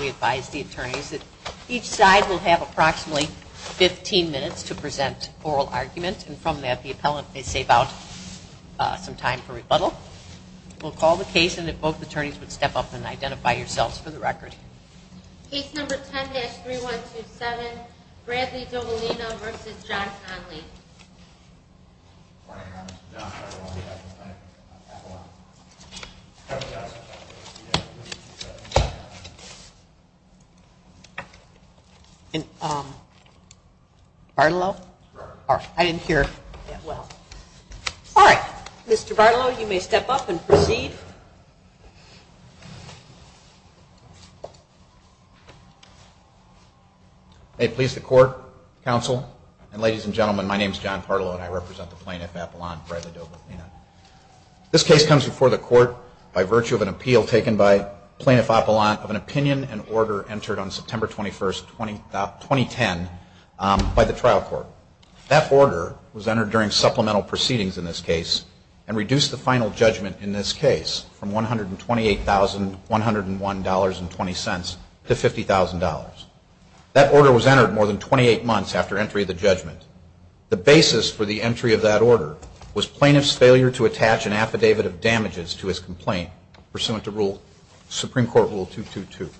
We advise the attorneys that each side will have approximately 15 minutes to present oral argument and from that the appellant may save out some time for rebuttal. We'll call the case and if both attorneys would step up and identify yourselves for the record. Case number 10-3127, Bradley Dovalina v. John Conley. Mr. Barlow, you may step up and proceed. May it please the court, counsel, and ladies and gentlemen, my name is John Barlow and I represent the plaintiff, Appellant Bradley Dovalina. This case comes before the court by virtue of an appeal taken by Plaintiff Appellant of an opinion and order entered on September 21, 2010 by the trial court. That order was entered during supplemental proceedings in this case and reduced the final judgment in this case from $128,101.20 to $50,000. That order was entered more than 28 months after entry of the judgment. The basis for the entry of that order was plaintiff's failure to attach an affidavit of damages to his complaint pursuant to Supreme Court Rule 222.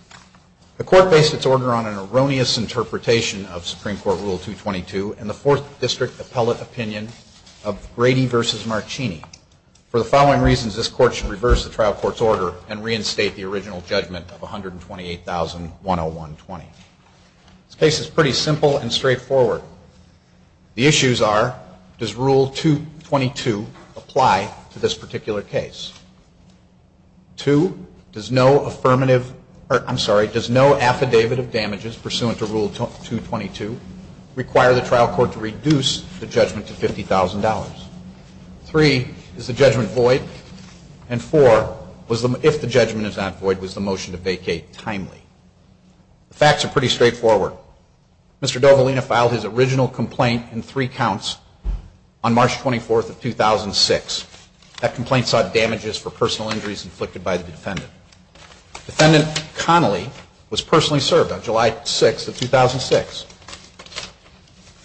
The court based its order on an erroneous interpretation of Supreme Court Rule 222 and the Fourth District Appellate opinion of Brady v. Marcini. For the following reasons, this court should reverse the trial court's order and reinstate the original judgment of $128,101.20. This case is pretty simple and straightforward. The issues are, does Rule 222 apply to this particular case? Two, does no affidavit of damages pursuant to Rule 222 require the trial court to reduce the judgment to $50,000? Three, is the judgment void? And four, if the judgment is not void, was the motion to vacate timely? The facts are pretty straightforward. Mr. Dovalina filed his original complaint in three counts on March 24, 2006. That complaint sought damages for personal injuries inflicted by the defendant. Defendant Connolly was personally served on July 6 of 2006.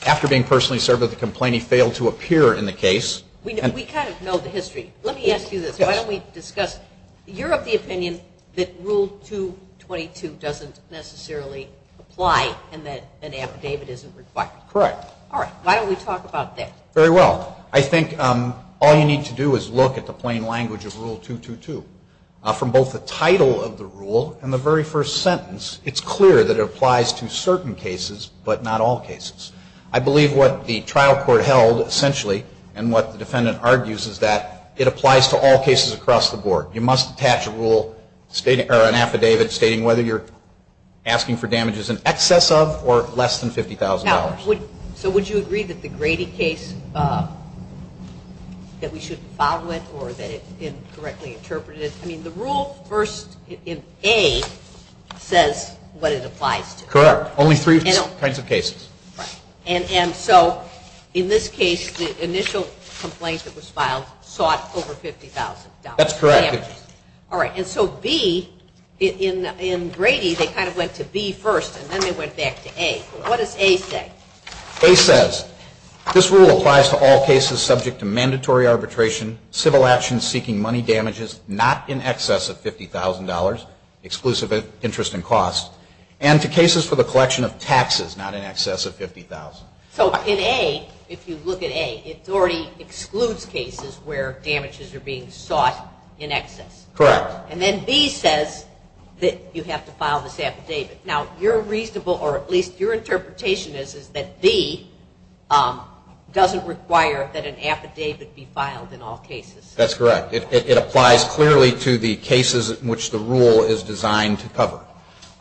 After being personally served with the complaint, he failed to appear in the case. We kind of know the history. Let me ask you this. Yes. Why don't we discuss, you're of the opinion that Rule 222 doesn't necessarily apply and that an affidavit isn't required. Correct. All right. Why don't we talk about that? Very well. I think all you need to do is look at the plain language of Rule 222. From both the title of the rule and the very first sentence, it's clear that it applies to certain cases but not all cases. I believe what the trial court held essentially and what the defendant argues is that it applies to all cases across the board. You must attach a rule or an affidavit stating whether you're asking for damages in excess of or less than $50,000. Now, so would you agree that the Grady case, that we shouldn't follow it or that it incorrectly interpreted it? I mean, the rule first in A says what it applies to. Correct. Only three kinds of cases. Right. And so in this case, the initial complaint that was filed sought over $50,000. That's correct. All right. And so B, in Grady, they kind of went to B first and then they went back to A. What does A say? A says, this rule applies to all cases subject to mandatory arbitration, civil action seeking money damages not in excess of $50,000, exclusive interest and cost, and to cases for the collection of taxes not in excess of $50,000. So in A, if you look at A, it already excludes cases where damages are being sought in excess. Correct. And then B says that you have to file this affidavit. Now, your reasonable, or at least your interpretation is, is that B doesn't require that an affidavit be filed in all cases. That's correct. It applies clearly to the cases in which the rule is designed to cover.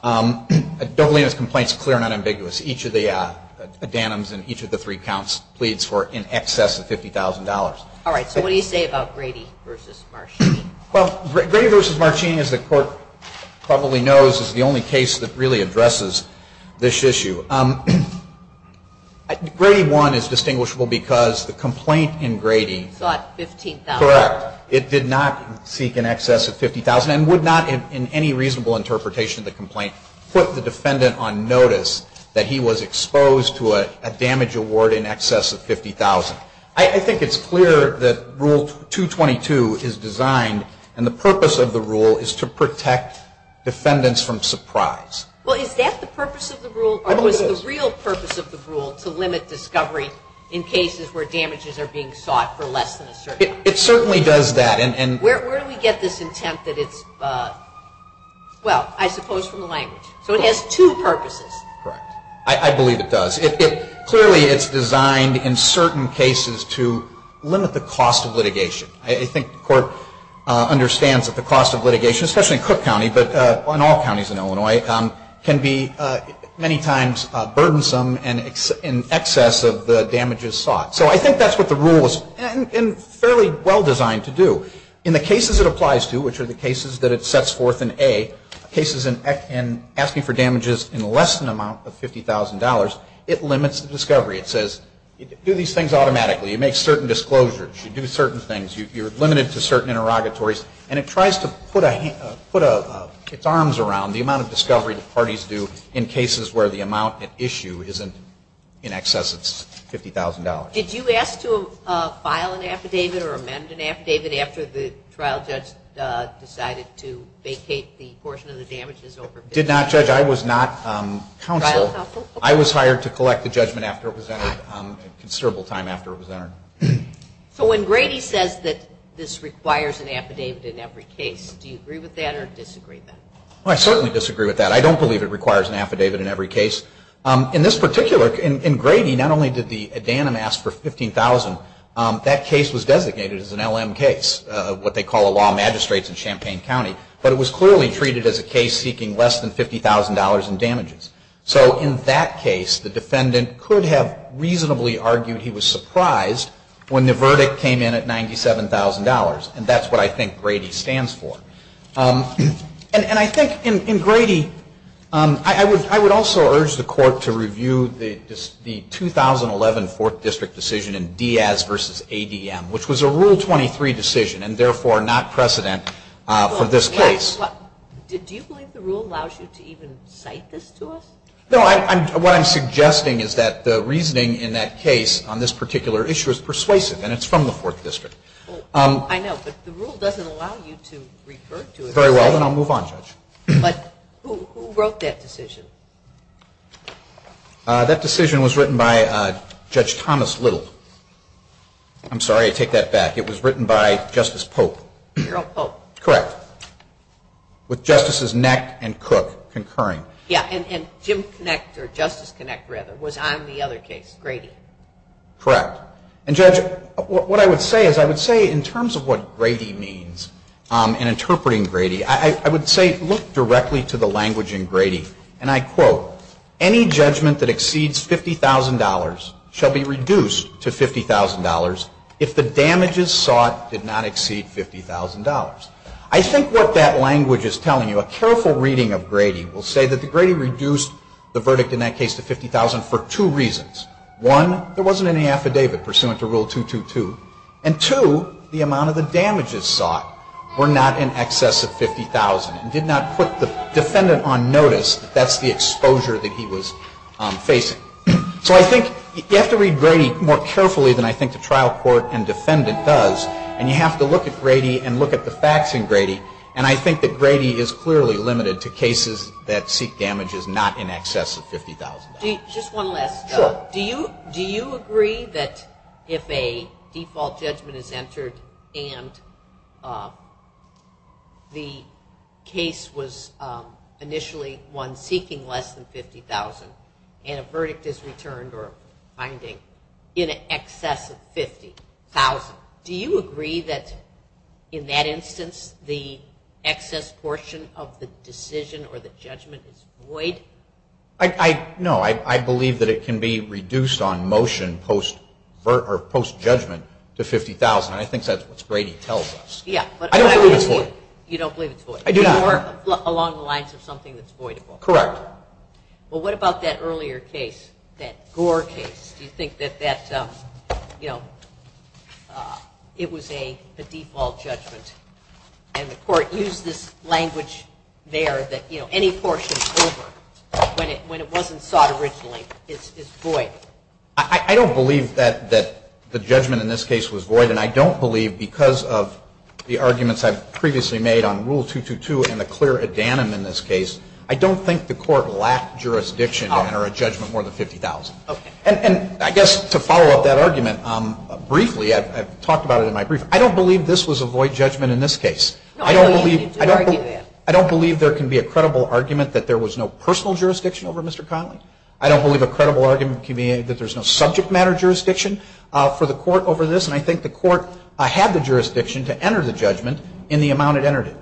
Dovalina's complaint is clear and unambiguous. Each of the addendums in each of the three counts pleads for in excess of $50,000. All right. So what do you say about Grady v. Marchini? Well, Grady v. Marchini, as the Court probably knows, is the only case that really addresses this issue. Grady 1 is distinguishable because the complaint in Grady. Sought $15,000. Correct. It did not seek in excess of $50,000 and would not in any reasonable interpretation of the complaint put the defendant on notice that he was exposed to a damage award in excess of $50,000. I think it's clear that Rule 222 is designed and the purpose of the rule is to protect defendants from surprise. Well, is that the purpose of the rule? I believe it is. Or was the real purpose of the rule to limit discovery in cases where damages are being sought for less than a certain amount? It certainly does that. Where do we get this intent that it's, well, I suppose from the language. So it has two purposes. Correct. I believe it does. Clearly it's designed in certain cases to limit the cost of litigation. I think the Court understands that the cost of litigation, especially in Cook County, but in all counties in Illinois, can be many times burdensome in excess of the damages sought. So I think that's what the rule is fairly well designed to do. In the cases it applies to, which are the cases that it sets forth in A, cases in asking for damages in less than an amount of $50,000, it limits the discovery. It says do these things automatically. You make certain disclosures. You do certain things. You're limited to certain interrogatories. And it tries to put its arms around the amount of discovery that parties do in cases where the amount at issue isn't in excess of $50,000. Did you ask to file an affidavit or amend an affidavit after the trial judge decided to vacate the portion of the damages? Did not judge. I was not counsel. I was hired to collect the judgment after it was entered, a considerable time after it was entered. So when Grady says that this requires an affidavit in every case, do you agree with that or disagree with that? I certainly disagree with that. I don't believe it requires an affidavit in every case. In this particular case, in Grady, not only did the Adanim ask for $15,000, that case was designated as an LM case, what they call a law magistrate in Champaign County. But it was clearly treated as a case seeking less than $50,000 in damages. So in that case, the defendant could have reasonably argued he was surprised when the verdict came in at $97,000. And that's what I think Grady stands for. And I think in Grady, I would also urge the Court to review the 2011 Fourth District decision in Diaz v. ADM, which was a Rule 23 decision and therefore not precedent for this case. Do you believe the rule allows you to even cite this to us? No. What I'm suggesting is that the reasoning in that case on this particular issue is persuasive and it's from the Fourth District. I know. But the rule doesn't allow you to refer to it. Very well. Then I'll move on, Judge. But who wrote that decision? That decision was written by Judge Thomas Little. I'm sorry. I take that back. It was written by Justice Pope. Harold Pope. Correct. With Justices Neck and Cook concurring. Yeah. And Jim Connect or Justice Connect, rather, was on the other case, Grady. Correct. And, Judge, what I would say is I would say in terms of what Grady means and interpreting Grady, I would say look directly to the language in Grady. And I quote, any judgment that exceeds $50,000 shall be reduced to $50,000 if the damages sought did not exceed $50,000. I think what that language is telling you, a careful reading of Grady will say that Grady reduced the verdict in that case to $50,000 for two reasons. One, there wasn't any affidavit pursuant to Rule 222. And two, the amount of the damages sought were not in excess of $50,000 and did not put the defendant on notice that that's the exposure that he was facing. So I think you have to read Grady more carefully than I think the trial court and defendant does. And you have to look at Grady and look at the facts in Grady. And I think that Grady is clearly limited to cases that seek damages not in excess of $50,000. Just one last. Sure. Do you agree that if a default judgment is entered and the case was initially one seeking less than $50,000 and a verdict is returned or finding in excess of $50,000, do you agree that in that instance the excess portion of the decision or the judgment is void? No. I believe that it can be reduced on motion post-judgment to $50,000. And I think that's what Grady tells us. Yeah. I don't believe it's void. You don't believe it's void. I do not. Along the lines of something that's voidable. Correct. Well, what about that earlier case, that Gore case? Do you think that that, you know, it was a default judgment and the court used this language there that, you know, any portion over when it wasn't sought originally is void? I don't believe that the judgment in this case was void. And I don't believe, because of the arguments I've previously made on Rule 222 and the clear addendum in this case, I don't think the court lacked jurisdiction to enter a judgment more than $50,000. Okay. And I guess to follow up that argument, briefly, I've talked about it in my brief, I don't believe this was a void judgment in this case. No, you didn't argue that. I don't believe there can be a credible argument that there was no personal jurisdiction over Mr. Connolly. I don't believe a credible argument can be that there's no subject matter jurisdiction for the court over this. And I think the court had the jurisdiction to enter the judgment in the amount it entered it.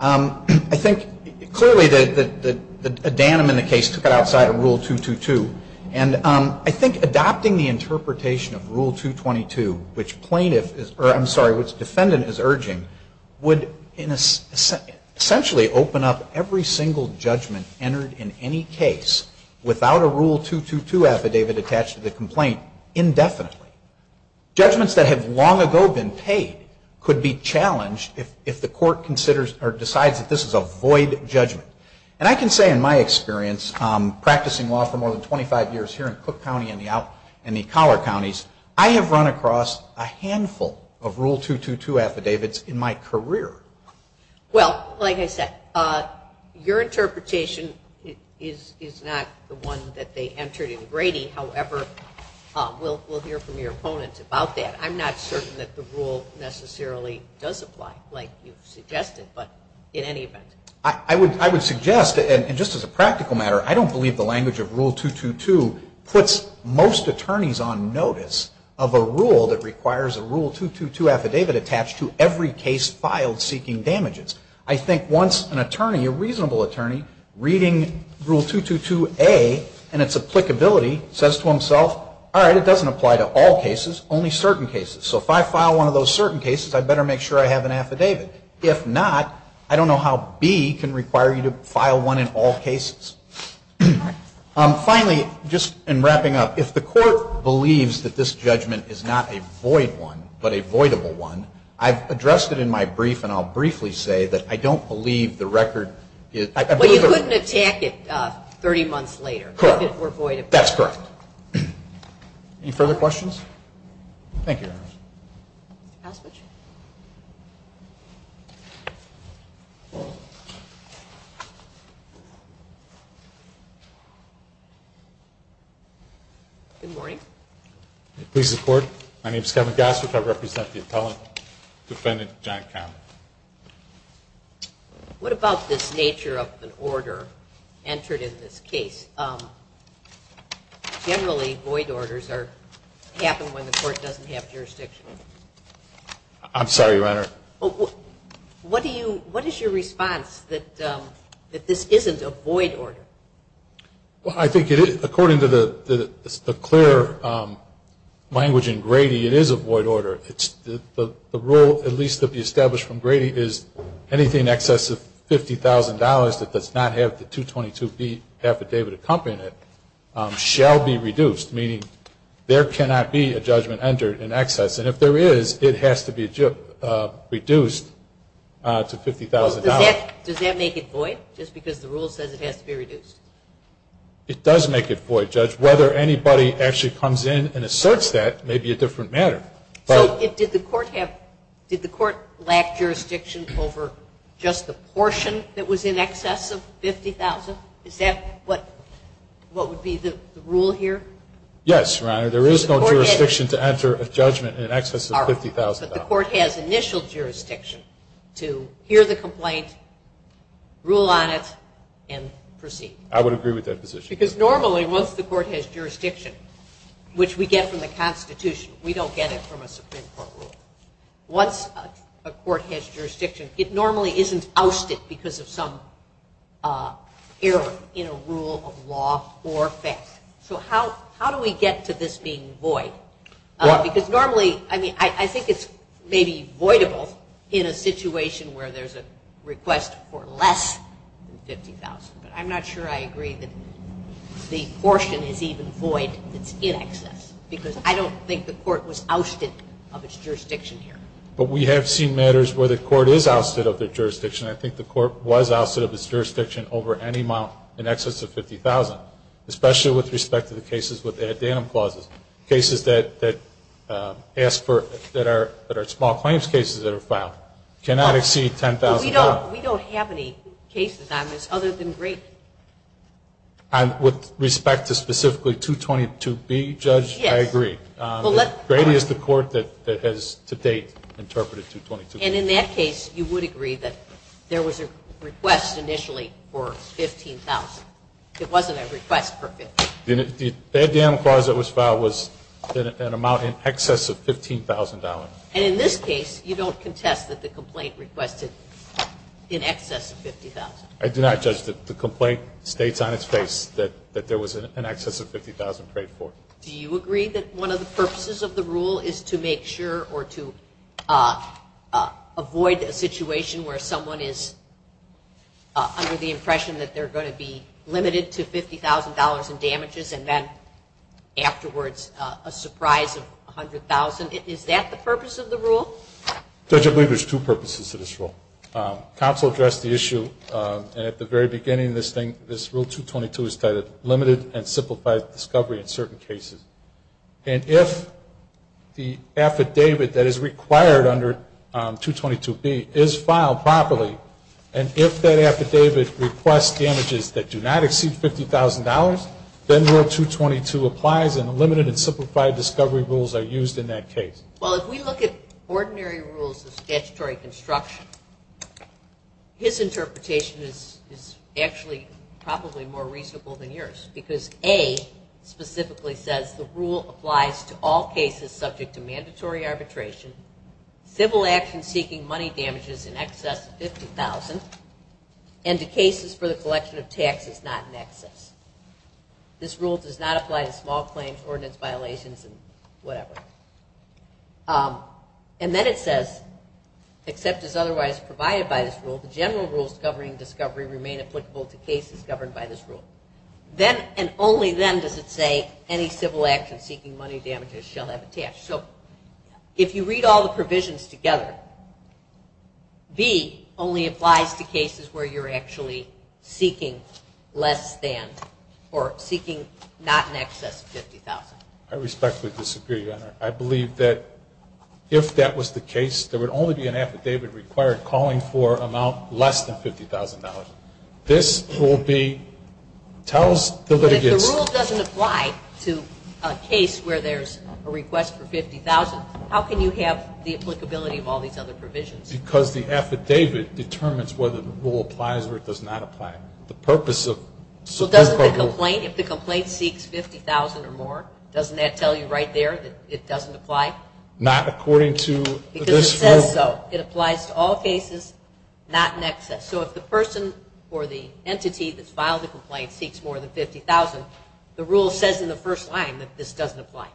I think clearly the addendum in the case took it outside of Rule 222. And I think adopting the interpretation of Rule 222, which plaintiff is urging, I'm sorry, which defendant is urging, would essentially open up every single judgment entered in any case without a Rule 222 affidavit attached to the complaint indefinitely. Judgments that have long ago been paid could be challenged if the court considers or decides that this is a void judgment. And I can say in my experience, practicing law for more than 25 years here in Cook County and the collar counties, I have run across a handful of Rule 222 affidavits in my career. Well, like I said, your interpretation is not the one that they entered in Grady. However, we'll hear from your opponents about that. I'm not certain that the rule necessarily does apply like you've suggested, but in any event. I would suggest, and just as a practical matter, I don't believe the language of Rule 222 puts most attorneys on notice of a rule that requires a Rule 222 affidavit attached to every case filed seeking damages. I think once an attorney, a reasonable attorney, reading Rule 222A and its applicability says to himself, all right, it doesn't apply to all cases, only certain cases. So if I file one of those certain cases, I better make sure I have an affidavit. If not, I don't know how B can require you to file one in all cases. Finally, just in wrapping up, if the court believes that this judgment is not a void one, but a voidable one, I've addressed it in my brief, and I'll briefly say that I don't believe the record is... But you couldn't attack it 30 months later if it were voidable? Correct. That's correct. Any further questions? Thank you, Your Honor. House, would you? Good morning. Please report. My name is Kevin Goss, which I represent the appellant. Defendant, John Count. What about this nature of an order entered in this case? Generally, void orders happen when the court doesn't have jurisdiction. I'm sorry, Your Honor. What is your response that this isn't a void order? Well, I think according to the clear language in Grady, it is a void order. The rule, at least that we established from Grady, is anything in excess of $50,000 that does not have the 222B affidavit accompanying it shall be reduced, meaning there cannot be a judgment entered in excess. And if there is, it has to be reduced to $50,000. Does that make it void, just because the rule says it has to be reduced? It does make it void, Judge. Whether anybody actually comes in and asserts that may be a different matter. So did the court lack jurisdiction over just the portion that was in excess of $50,000? Is that what would be the rule here? Yes, Your Honor. There is no jurisdiction to enter a judgment in excess of $50,000. All right. But the court has initial jurisdiction to hear the complaint, rule on it, and proceed. I would agree with that position. Because normally, once the court has jurisdiction, which we get from the Constitution, we don't get it from a Supreme Court rule. Once a court has jurisdiction, it normally isn't ousted because of some error in a rule of law or fact. So how do we get to this being void? Because normally, I think it's maybe voidable in a situation where there's a request for less than $50,000. But I'm not sure I agree that the portion is even void that's in excess because I don't think the court was ousted of its jurisdiction here. But we have seen matters where the court is ousted of their jurisdiction. I think the court was ousted of its jurisdiction over any amount in excess of $50,000, especially with respect to the cases with addendum clauses, cases that are small claims cases that are filed. Cannot exceed $10,000. We don't have any cases on this other than Grady. With respect to specifically 222B, Judge, I agree. Grady is the court that has to date interpreted 222B. And in that case, you would agree that there was a request initially for $15,000. It wasn't a request for $50,000. The addendum clause that was filed was an amount in excess of $15,000. And in this case, you don't contest that the complaint requested in excess of $50,000. I do not, Judge. The complaint states on its face that there was an excess of $50,000 paid for. Do you agree that one of the purposes of the rule is to make sure or to avoid a situation where someone is under the impression that they're going to be limited to $50,000 in damages and then afterwards a surprise of $100,000? Is that the purpose of the rule? Judge, I believe there's two purposes to this rule. Counsel addressed the issue, and at the very beginning of this thing, this Rule 222 is titled Limited and Simplified Discovery in Certain Cases. And if the affidavit that is required under 222B is filed properly, and if that affidavit requests damages that do not exceed $50,000, then Rule 222 applies and Limited and Simplified Discovery rules are used in that case. Well, if we look at ordinary rules of statutory construction, his interpretation is actually probably more reasonable than yours, because A specifically says the rule applies to all cases subject to mandatory arbitration, civil action seeking money damages in excess of $50,000, and to cases for the collection of taxes not in excess. This rule does not apply to small claims, ordinance violations, and whatever. And then it says, except as otherwise provided by this rule, the general rules governing discovery remain applicable to cases governed by this rule. Then and only then does it say any civil action seeking money damages shall have a tax. So if you read all the provisions together, B only applies to cases where you're actually seeking less than or seeking not in excess of $50,000. I respectfully disagree, Your Honor. I believe that if that was the case, there would only be an affidavit required calling for an amount less than $50,000. This will be, tells the litigants. But if the rule doesn't apply to a case where there's a request for $50,000, how can you have the applicability of all these other provisions? Because the affidavit determines whether the rule applies or it does not apply. So doesn't the complaint, if the complaint seeks $50,000 or more, doesn't that tell you right there that it doesn't apply? Not according to this rule. Because it says so. It applies to all cases not in excess. So if the person or the entity that's filed the complaint seeks more than $50,000, the rule says in the first line that this doesn't apply.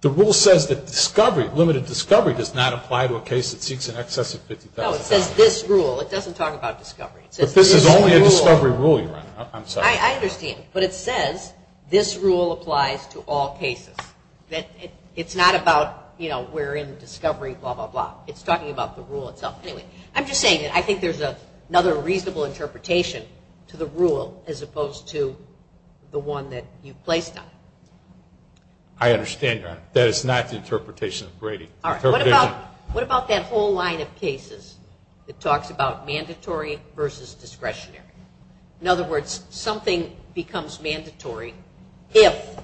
The rule says that discovery, limited discovery, does not apply to a case that seeks in excess of $50,000. No, it says this rule. It doesn't talk about discovery. It says this rule. But this is only a discovery rule, Your Honor. I'm sorry. I understand. But it says this rule applies to all cases. It's not about, you know, we're in discovery, blah, blah, blah. It's talking about the rule itself. Anyway, I'm just saying that I think there's another reasonable interpretation to the rule as opposed to the one that you placed on it. I understand, Your Honor. That is not the interpretation of Brady. All right. What about that whole line of cases that talks about mandatory versus discretionary? In other words, something becomes mandatory if,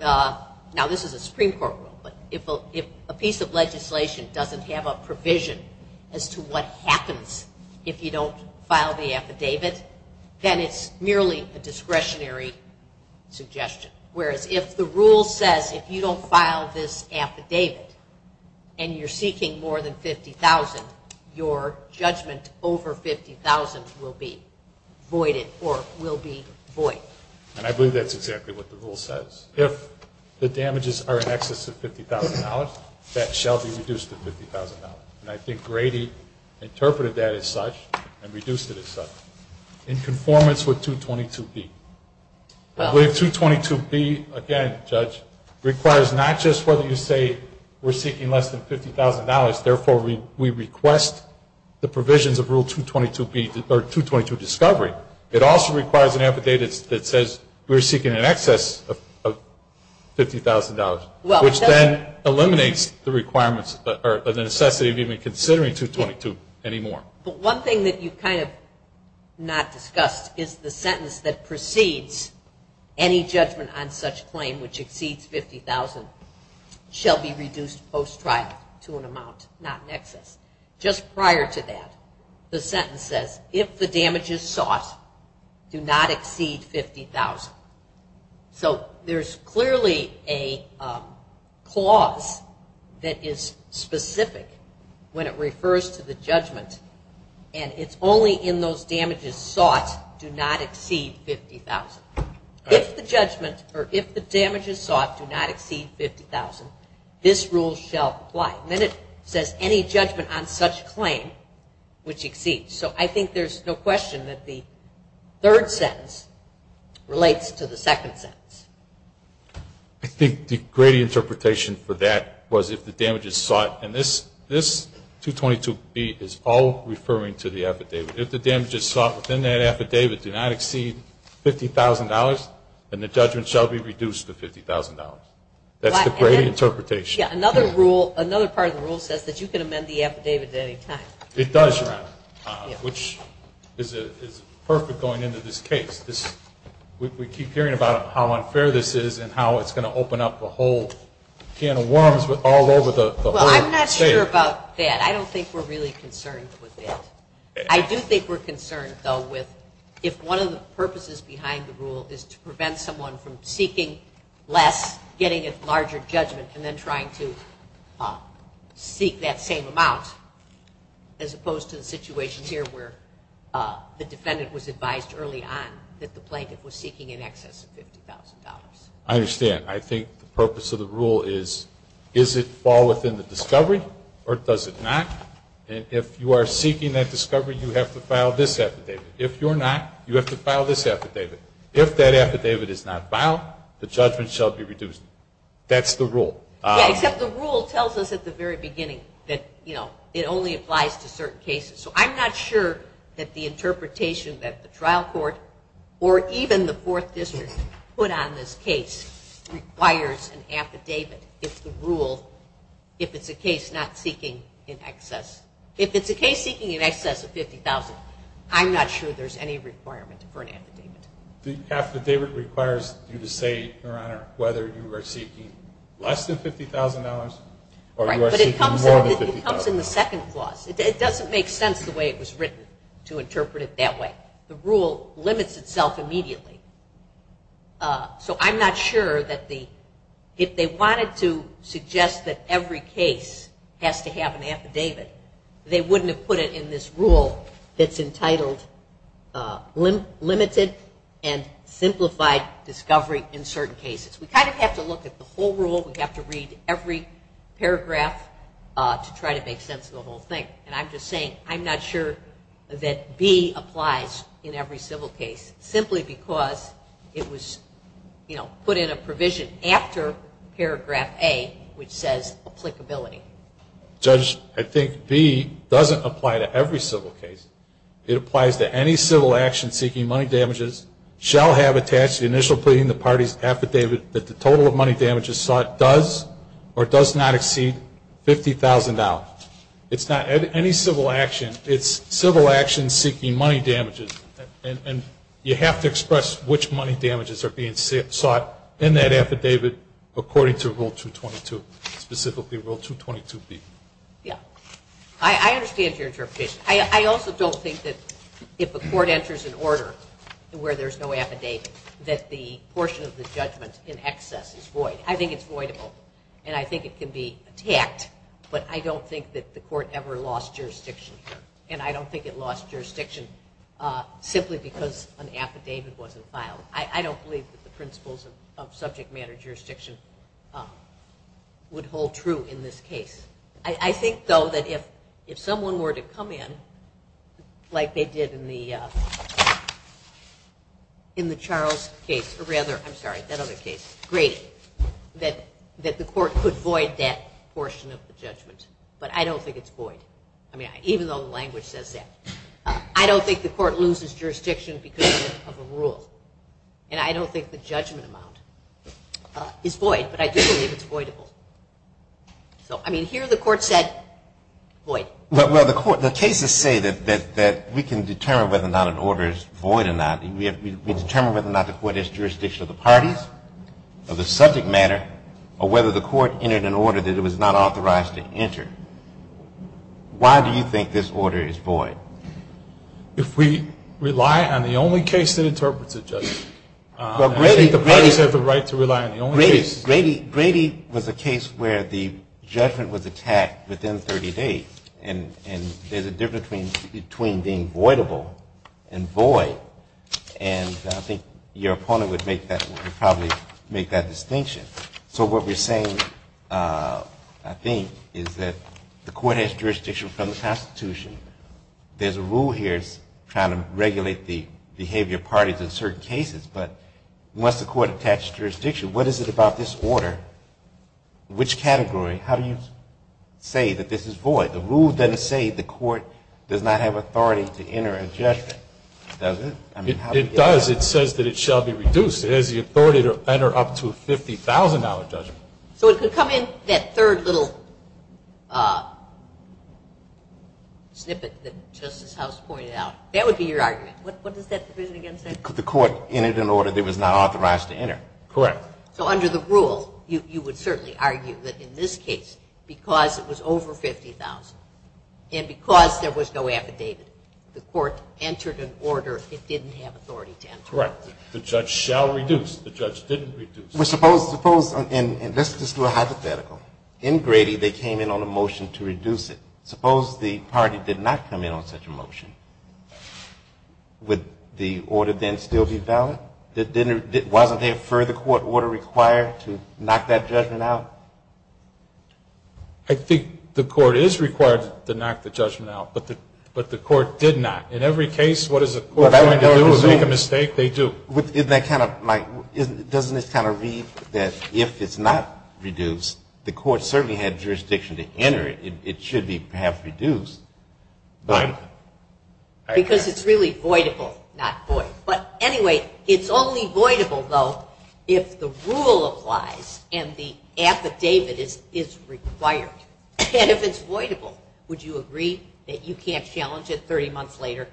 now this is a Supreme Court rule, but if a piece of legislation doesn't have a provision as to what happens if you don't file the affidavit, then it's merely a discretionary suggestion. Whereas if the rule says if you don't file this affidavit and you're seeking more than $50,000, your judgment over $50,000 will be voided or will be void. And I believe that's exactly what the rule says. If the damages are in excess of $50,000, that shall be reduced to $50,000. And I think Brady interpreted that as such and reduced it as such in conformance with 222B. I believe 222B, again, Judge, requires not just whether you say we're seeking less than $50,000, therefore we request the provisions of Rule 222 discovery. It also requires an affidavit that says we're seeking in excess of $50,000, which then eliminates the requirements or the necessity of even considering 222 anymore. But one thing that you've kind of not discussed is the sentence that precedes any judgment on such claim which exceeds $50,000 shall be reduced post-trial to an amount not in excess. Just prior to that, the sentence says if the damages sought do not exceed $50,000. So there's clearly a clause that is specific when it refers to the judgment, and it's only in those damages sought do not exceed $50,000. If the judgment or if the damages sought do not exceed $50,000, this rule shall apply. And then it says any judgment on such claim which exceeds. So I think there's no question that the third sentence relates to the second sentence. I think the great interpretation for that was if the damages sought, and this 222B is all referring to the affidavit. If the damages sought within that affidavit do not exceed $50,000, then the judgment shall be reduced to $50,000. That's the great interpretation. Yeah, another part of the rule says that you can amend the affidavit at any time. It does, Your Honor, which is perfect going into this case. We keep hearing about how unfair this is and how it's going to open up a whole can of worms all over the whole state. Well, I'm not sure about that. I don't think we're really concerned with that. I do think we're concerned, though, with if one of the purposes behind the rule is to prevent someone from seeking less, getting a larger judgment, and then trying to seek that same amount, as opposed to the situation here where the defendant was advised early on that the plaintiff was seeking in excess of $50,000. I understand. I think the purpose of the rule is, is it fall within the discovery or does it not? And if you are seeking that discovery, you have to file this affidavit. If you're not, you have to file this affidavit. If that affidavit is not filed, the judgment shall be reduced. That's the rule. Yeah, except the rule tells us at the very beginning that, you know, it only applies to certain cases. So I'm not sure that the interpretation that the trial court or even the Fourth District put on this case requires an affidavit if the rule, if it's a case not seeking in excess. If it's a case seeking in excess of $50,000, I'm not sure there's any requirement for an affidavit. The affidavit requires you to say, Your Honor, whether you are seeking less than $50,000 or you are seeking more than $50,000. Right, but it comes in the second clause. It doesn't make sense the way it was written to interpret it that way. The rule limits itself immediately. So I'm not sure that the, if they wanted to suggest that every case has to have an affidavit, they wouldn't have put it in this rule that's entitled limited and simplified discovery in certain cases. We kind of have to look at the whole rule. We have to read every paragraph to try to make sense of the whole thing. And I'm just saying I'm not sure that B applies in every civil case simply because it was, you know, put in a provision after paragraph A, which says applicability. Judge, I think B doesn't apply to every civil case. It applies to any civil action seeking money damages, shall have attached to the initial plea in the party's affidavit that the total of money damages sought does or does not exceed $50,000. It's not any civil action. It's civil action seeking money damages. And you have to express which money damages are being sought in that affidavit according to Rule 222, specifically Rule 222B. Yeah. I understand your interpretation. I also don't think that if a court enters an order where there's no affidavit, that the portion of the judgment in excess is void. I think it's voidable, and I think it can be attacked, but I don't think that the court ever lost jurisdiction here. And I don't think it lost jurisdiction simply because an affidavit wasn't filed. I don't believe that the principles of subject matter jurisdiction would hold true in this case. I think, though, that if someone were to come in like they did in the Charles case, or rather, I'm sorry, that other case, Grady, that the court could void that portion of the judgment. But I don't think it's void, even though the language says that. I don't think the court loses jurisdiction because of a rule, and I don't think the judgment amount is void, but I do believe it's voidable. So, I mean, here the court said void. Well, the cases say that we can determine whether or not an order is void or not. We determine whether or not the court has jurisdiction of the parties, of the subject matter, or whether the court entered an order that it was not authorized to enter. Why do you think this order is void? If we rely on the only case that interprets it, Justice. I think the parties have the right to rely on the only case. Grady was a case where the judgment was attacked within 30 days, and there's a difference between being voidable and void, and I think your opponent would probably make that distinction. So what we're saying, I think, is that the court has jurisdiction from the Constitution. There's a rule here trying to regulate the behavior of parties in certain cases, but once the court attaches jurisdiction, what is it about this order? Which category? How do you say that this is void? The rule doesn't say the court does not have authority to enter a judgment, does it? It does. It says that it shall be reduced. It has the authority to enter up to a $50,000 judgment. So it could come in that third little snippet that Justice House pointed out. That would be your argument. What does that division again say? The court entered an order that it was not authorized to enter. Correct. So under the rule, you would certainly argue that in this case, because it was over $50,000 and because there was no affidavit, the court entered an order it didn't have authority to enter. Correct. The judge shall reduce. The judge didn't reduce. Well, suppose, and let's just do a hypothetical. In Grady, they came in on a motion to reduce it. Suppose the party did not come in on such a motion. Would the order then still be valid? Wasn't there a further court order required to knock that judgment out? I think the court is required to knock the judgment out, but the court did not. In every case, what is a court going to do is make a mistake? They do. Doesn't it kind of read that if it's not reduced, the court certainly had jurisdiction to enter it. It should be perhaps reduced. Because it's really voidable, not void. But anyway, it's only voidable, though, if the rule applies and the affidavit is required. And if it's voidable, would you agree that you can't challenge it 30 months later?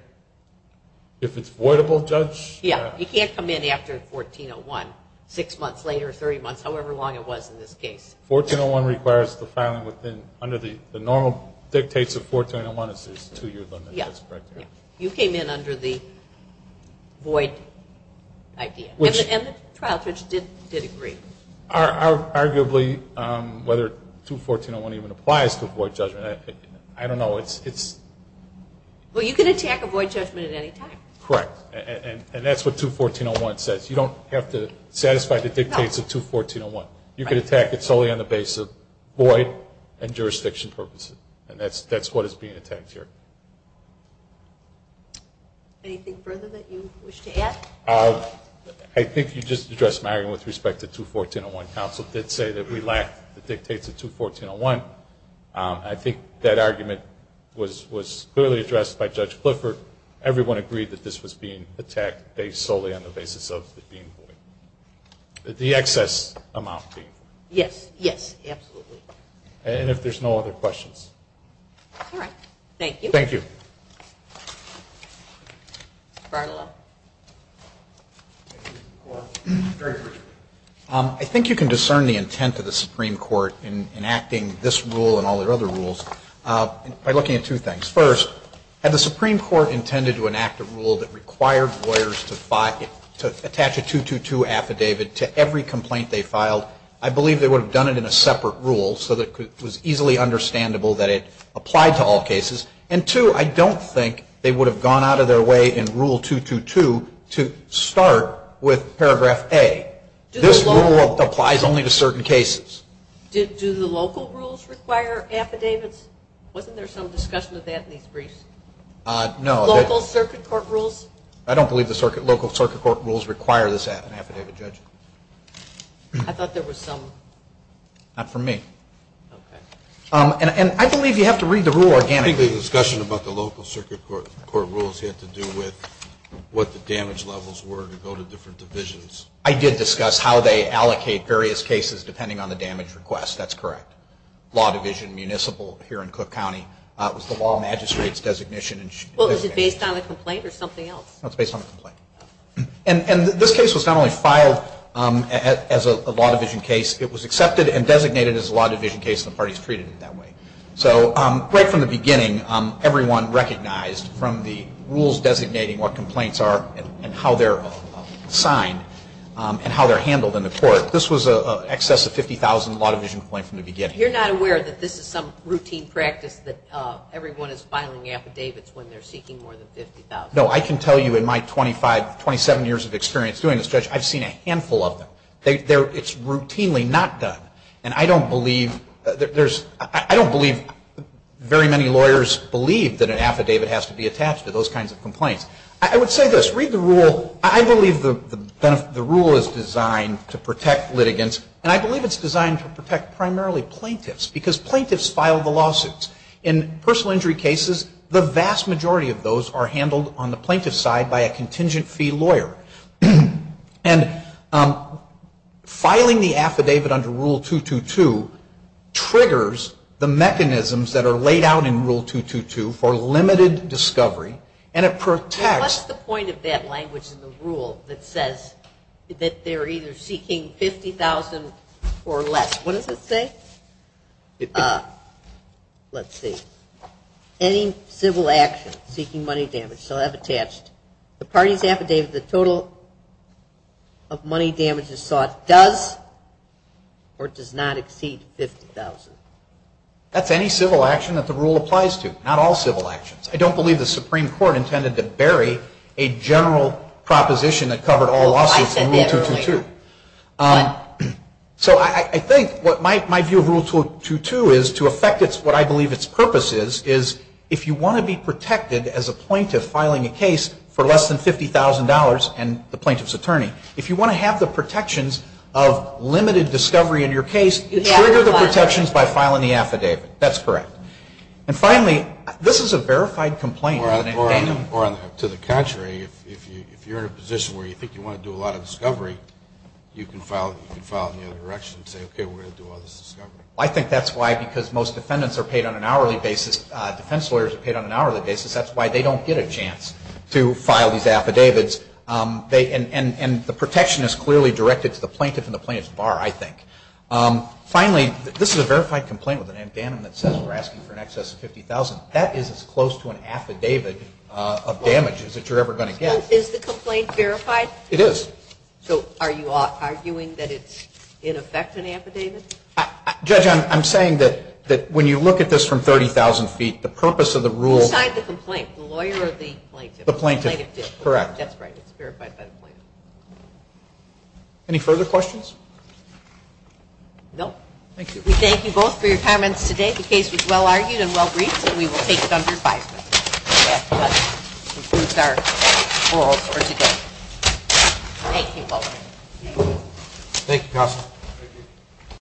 If it's voidable, Judge? Yeah. You can't come in after 1401, six months later, 30 months, however long it was in this case. 1401 requires the filing under the normal dictates of 1401. It says two-year limit. That's correct. You came in under the void idea. And the trial judge did agree. Arguably, whether 21401 even applies to void judgment, I don't know. Well, you can attack a void judgment at any time. Correct. And that's what 21401 says. You don't have to satisfy the dictates of 21401. You can attack it solely on the basis of void and jurisdiction purposes. And that's what is being attacked here. Anything further that you wish to add? I think you just addressed my argument with respect to 21401. Counsel did say that we lacked the dictates of 21401. I think that argument was clearly addressed by Judge Clifford. Everyone agreed that this was being attacked based solely on the basis of the being void. The excess amount being void. Yes. Yes, absolutely. And if there's no other questions. All right. Thank you. Thank you. Mr. Bartolau. I think you can discern the intent of the Supreme Court in acting this rule and all their other rules by looking at two things. First, had the Supreme Court intended to enact a rule that required lawyers to attach a 222 affidavit to every complaint they filed, I believe they would have done it in a separate rule so that it was easily understandable that it applied to all cases. And two, I don't think they would have gone out of their way in Rule 222 to start with Paragraph A. This rule applies only to certain cases. Do the local rules require affidavits? Wasn't there some discussion of that in these briefs? No. Local circuit court rules? I don't believe the local circuit court rules require this affidavit, Judge. I thought there was some. Not from me. Okay. And I believe you have to read the rule organically. I think the discussion about the local circuit court rules had to do with what the damage levels were to go to different divisions. I did discuss how they allocate various cases depending on the damage request. That's correct. The case that was filed at Law Division Municipal here in Cook County was the law magistrate's designation. Well, is it based on a complaint or something else? No, it's based on a complaint. And this case was not only filed as a Law Division case. It was accepted and designated as a Law Division case, and the parties treated it that way. So right from the beginning, everyone recognized from the rules designating what complaints are and how they're signed and how they're handled in the court, this was an excess of 50,000 Law Division complaints from the beginning. You're not aware that this is some routine practice that everyone is filing affidavits when they're seeking more than 50,000? No. I can tell you in my 27 years of experience doing this, Judge, I've seen a handful of them. It's routinely not done. And I don't believe very many lawyers believe that an affidavit has to be attached to those kinds of complaints. I would say this. Read the rule. I believe the rule is designed to protect litigants, and I believe it's designed to protect primarily plaintiffs, because plaintiffs file the lawsuits. In personal injury cases, the vast majority of those are handled on the plaintiff's side by a contingent fee lawyer. And filing the affidavit under Rule 222 triggers the mechanisms that are laid out in Rule 222 for limited discovery, and it protects. What's the point of that language in the rule that says that they're either seeking 50,000 or less? What does it say? Let's see. Any civil action seeking money damage shall have attached the party's affidavit the total of money damages sought does or does not exceed 50,000. That's any civil action that the rule applies to, not all civil actions. I don't believe the Supreme Court intended to bury a general proposition that covered all lawsuits in Rule 222. So I think my view of Rule 222 is to affect what I believe its purpose is, is if you want to be protected as a plaintiff filing a case for less than $50,000 and the plaintiff's attorney, if you want to have the protections of limited discovery in your case, trigger the protections by filing the affidavit. That's correct. And finally, this is a verified complaint. Or to the contrary, if you're in a position where you think you want to do a lot of discovery, you can file it in the other direction and say, okay, we're going to do all this discovery. I think that's why because most defendants are paid on an hourly basis, defense lawyers are paid on an hourly basis, that's why they don't get a chance to file these affidavits. And the protection is clearly directed to the plaintiff and the plaintiff's bar, I think. Finally, this is a verified complaint with an addendum that says we're asking for an excess of $50,000. That is as close to an affidavit of damages that you're ever going to get. Is the complaint verified? It is. So are you arguing that it's in effect an affidavit? Judge, I'm saying that when you look at this from 30,000 feet, the purpose of the rule Beside the complaint, the lawyer or the plaintiff? The plaintiff. Correct. That's right. It's verified by the plaintiff. Any further questions? No. Thank you. We thank you both for your comments today. The case was well-argued and well-briefed, and we will take it under advisement if that improves our rules for today. Thank you both. Thank you, Counsel.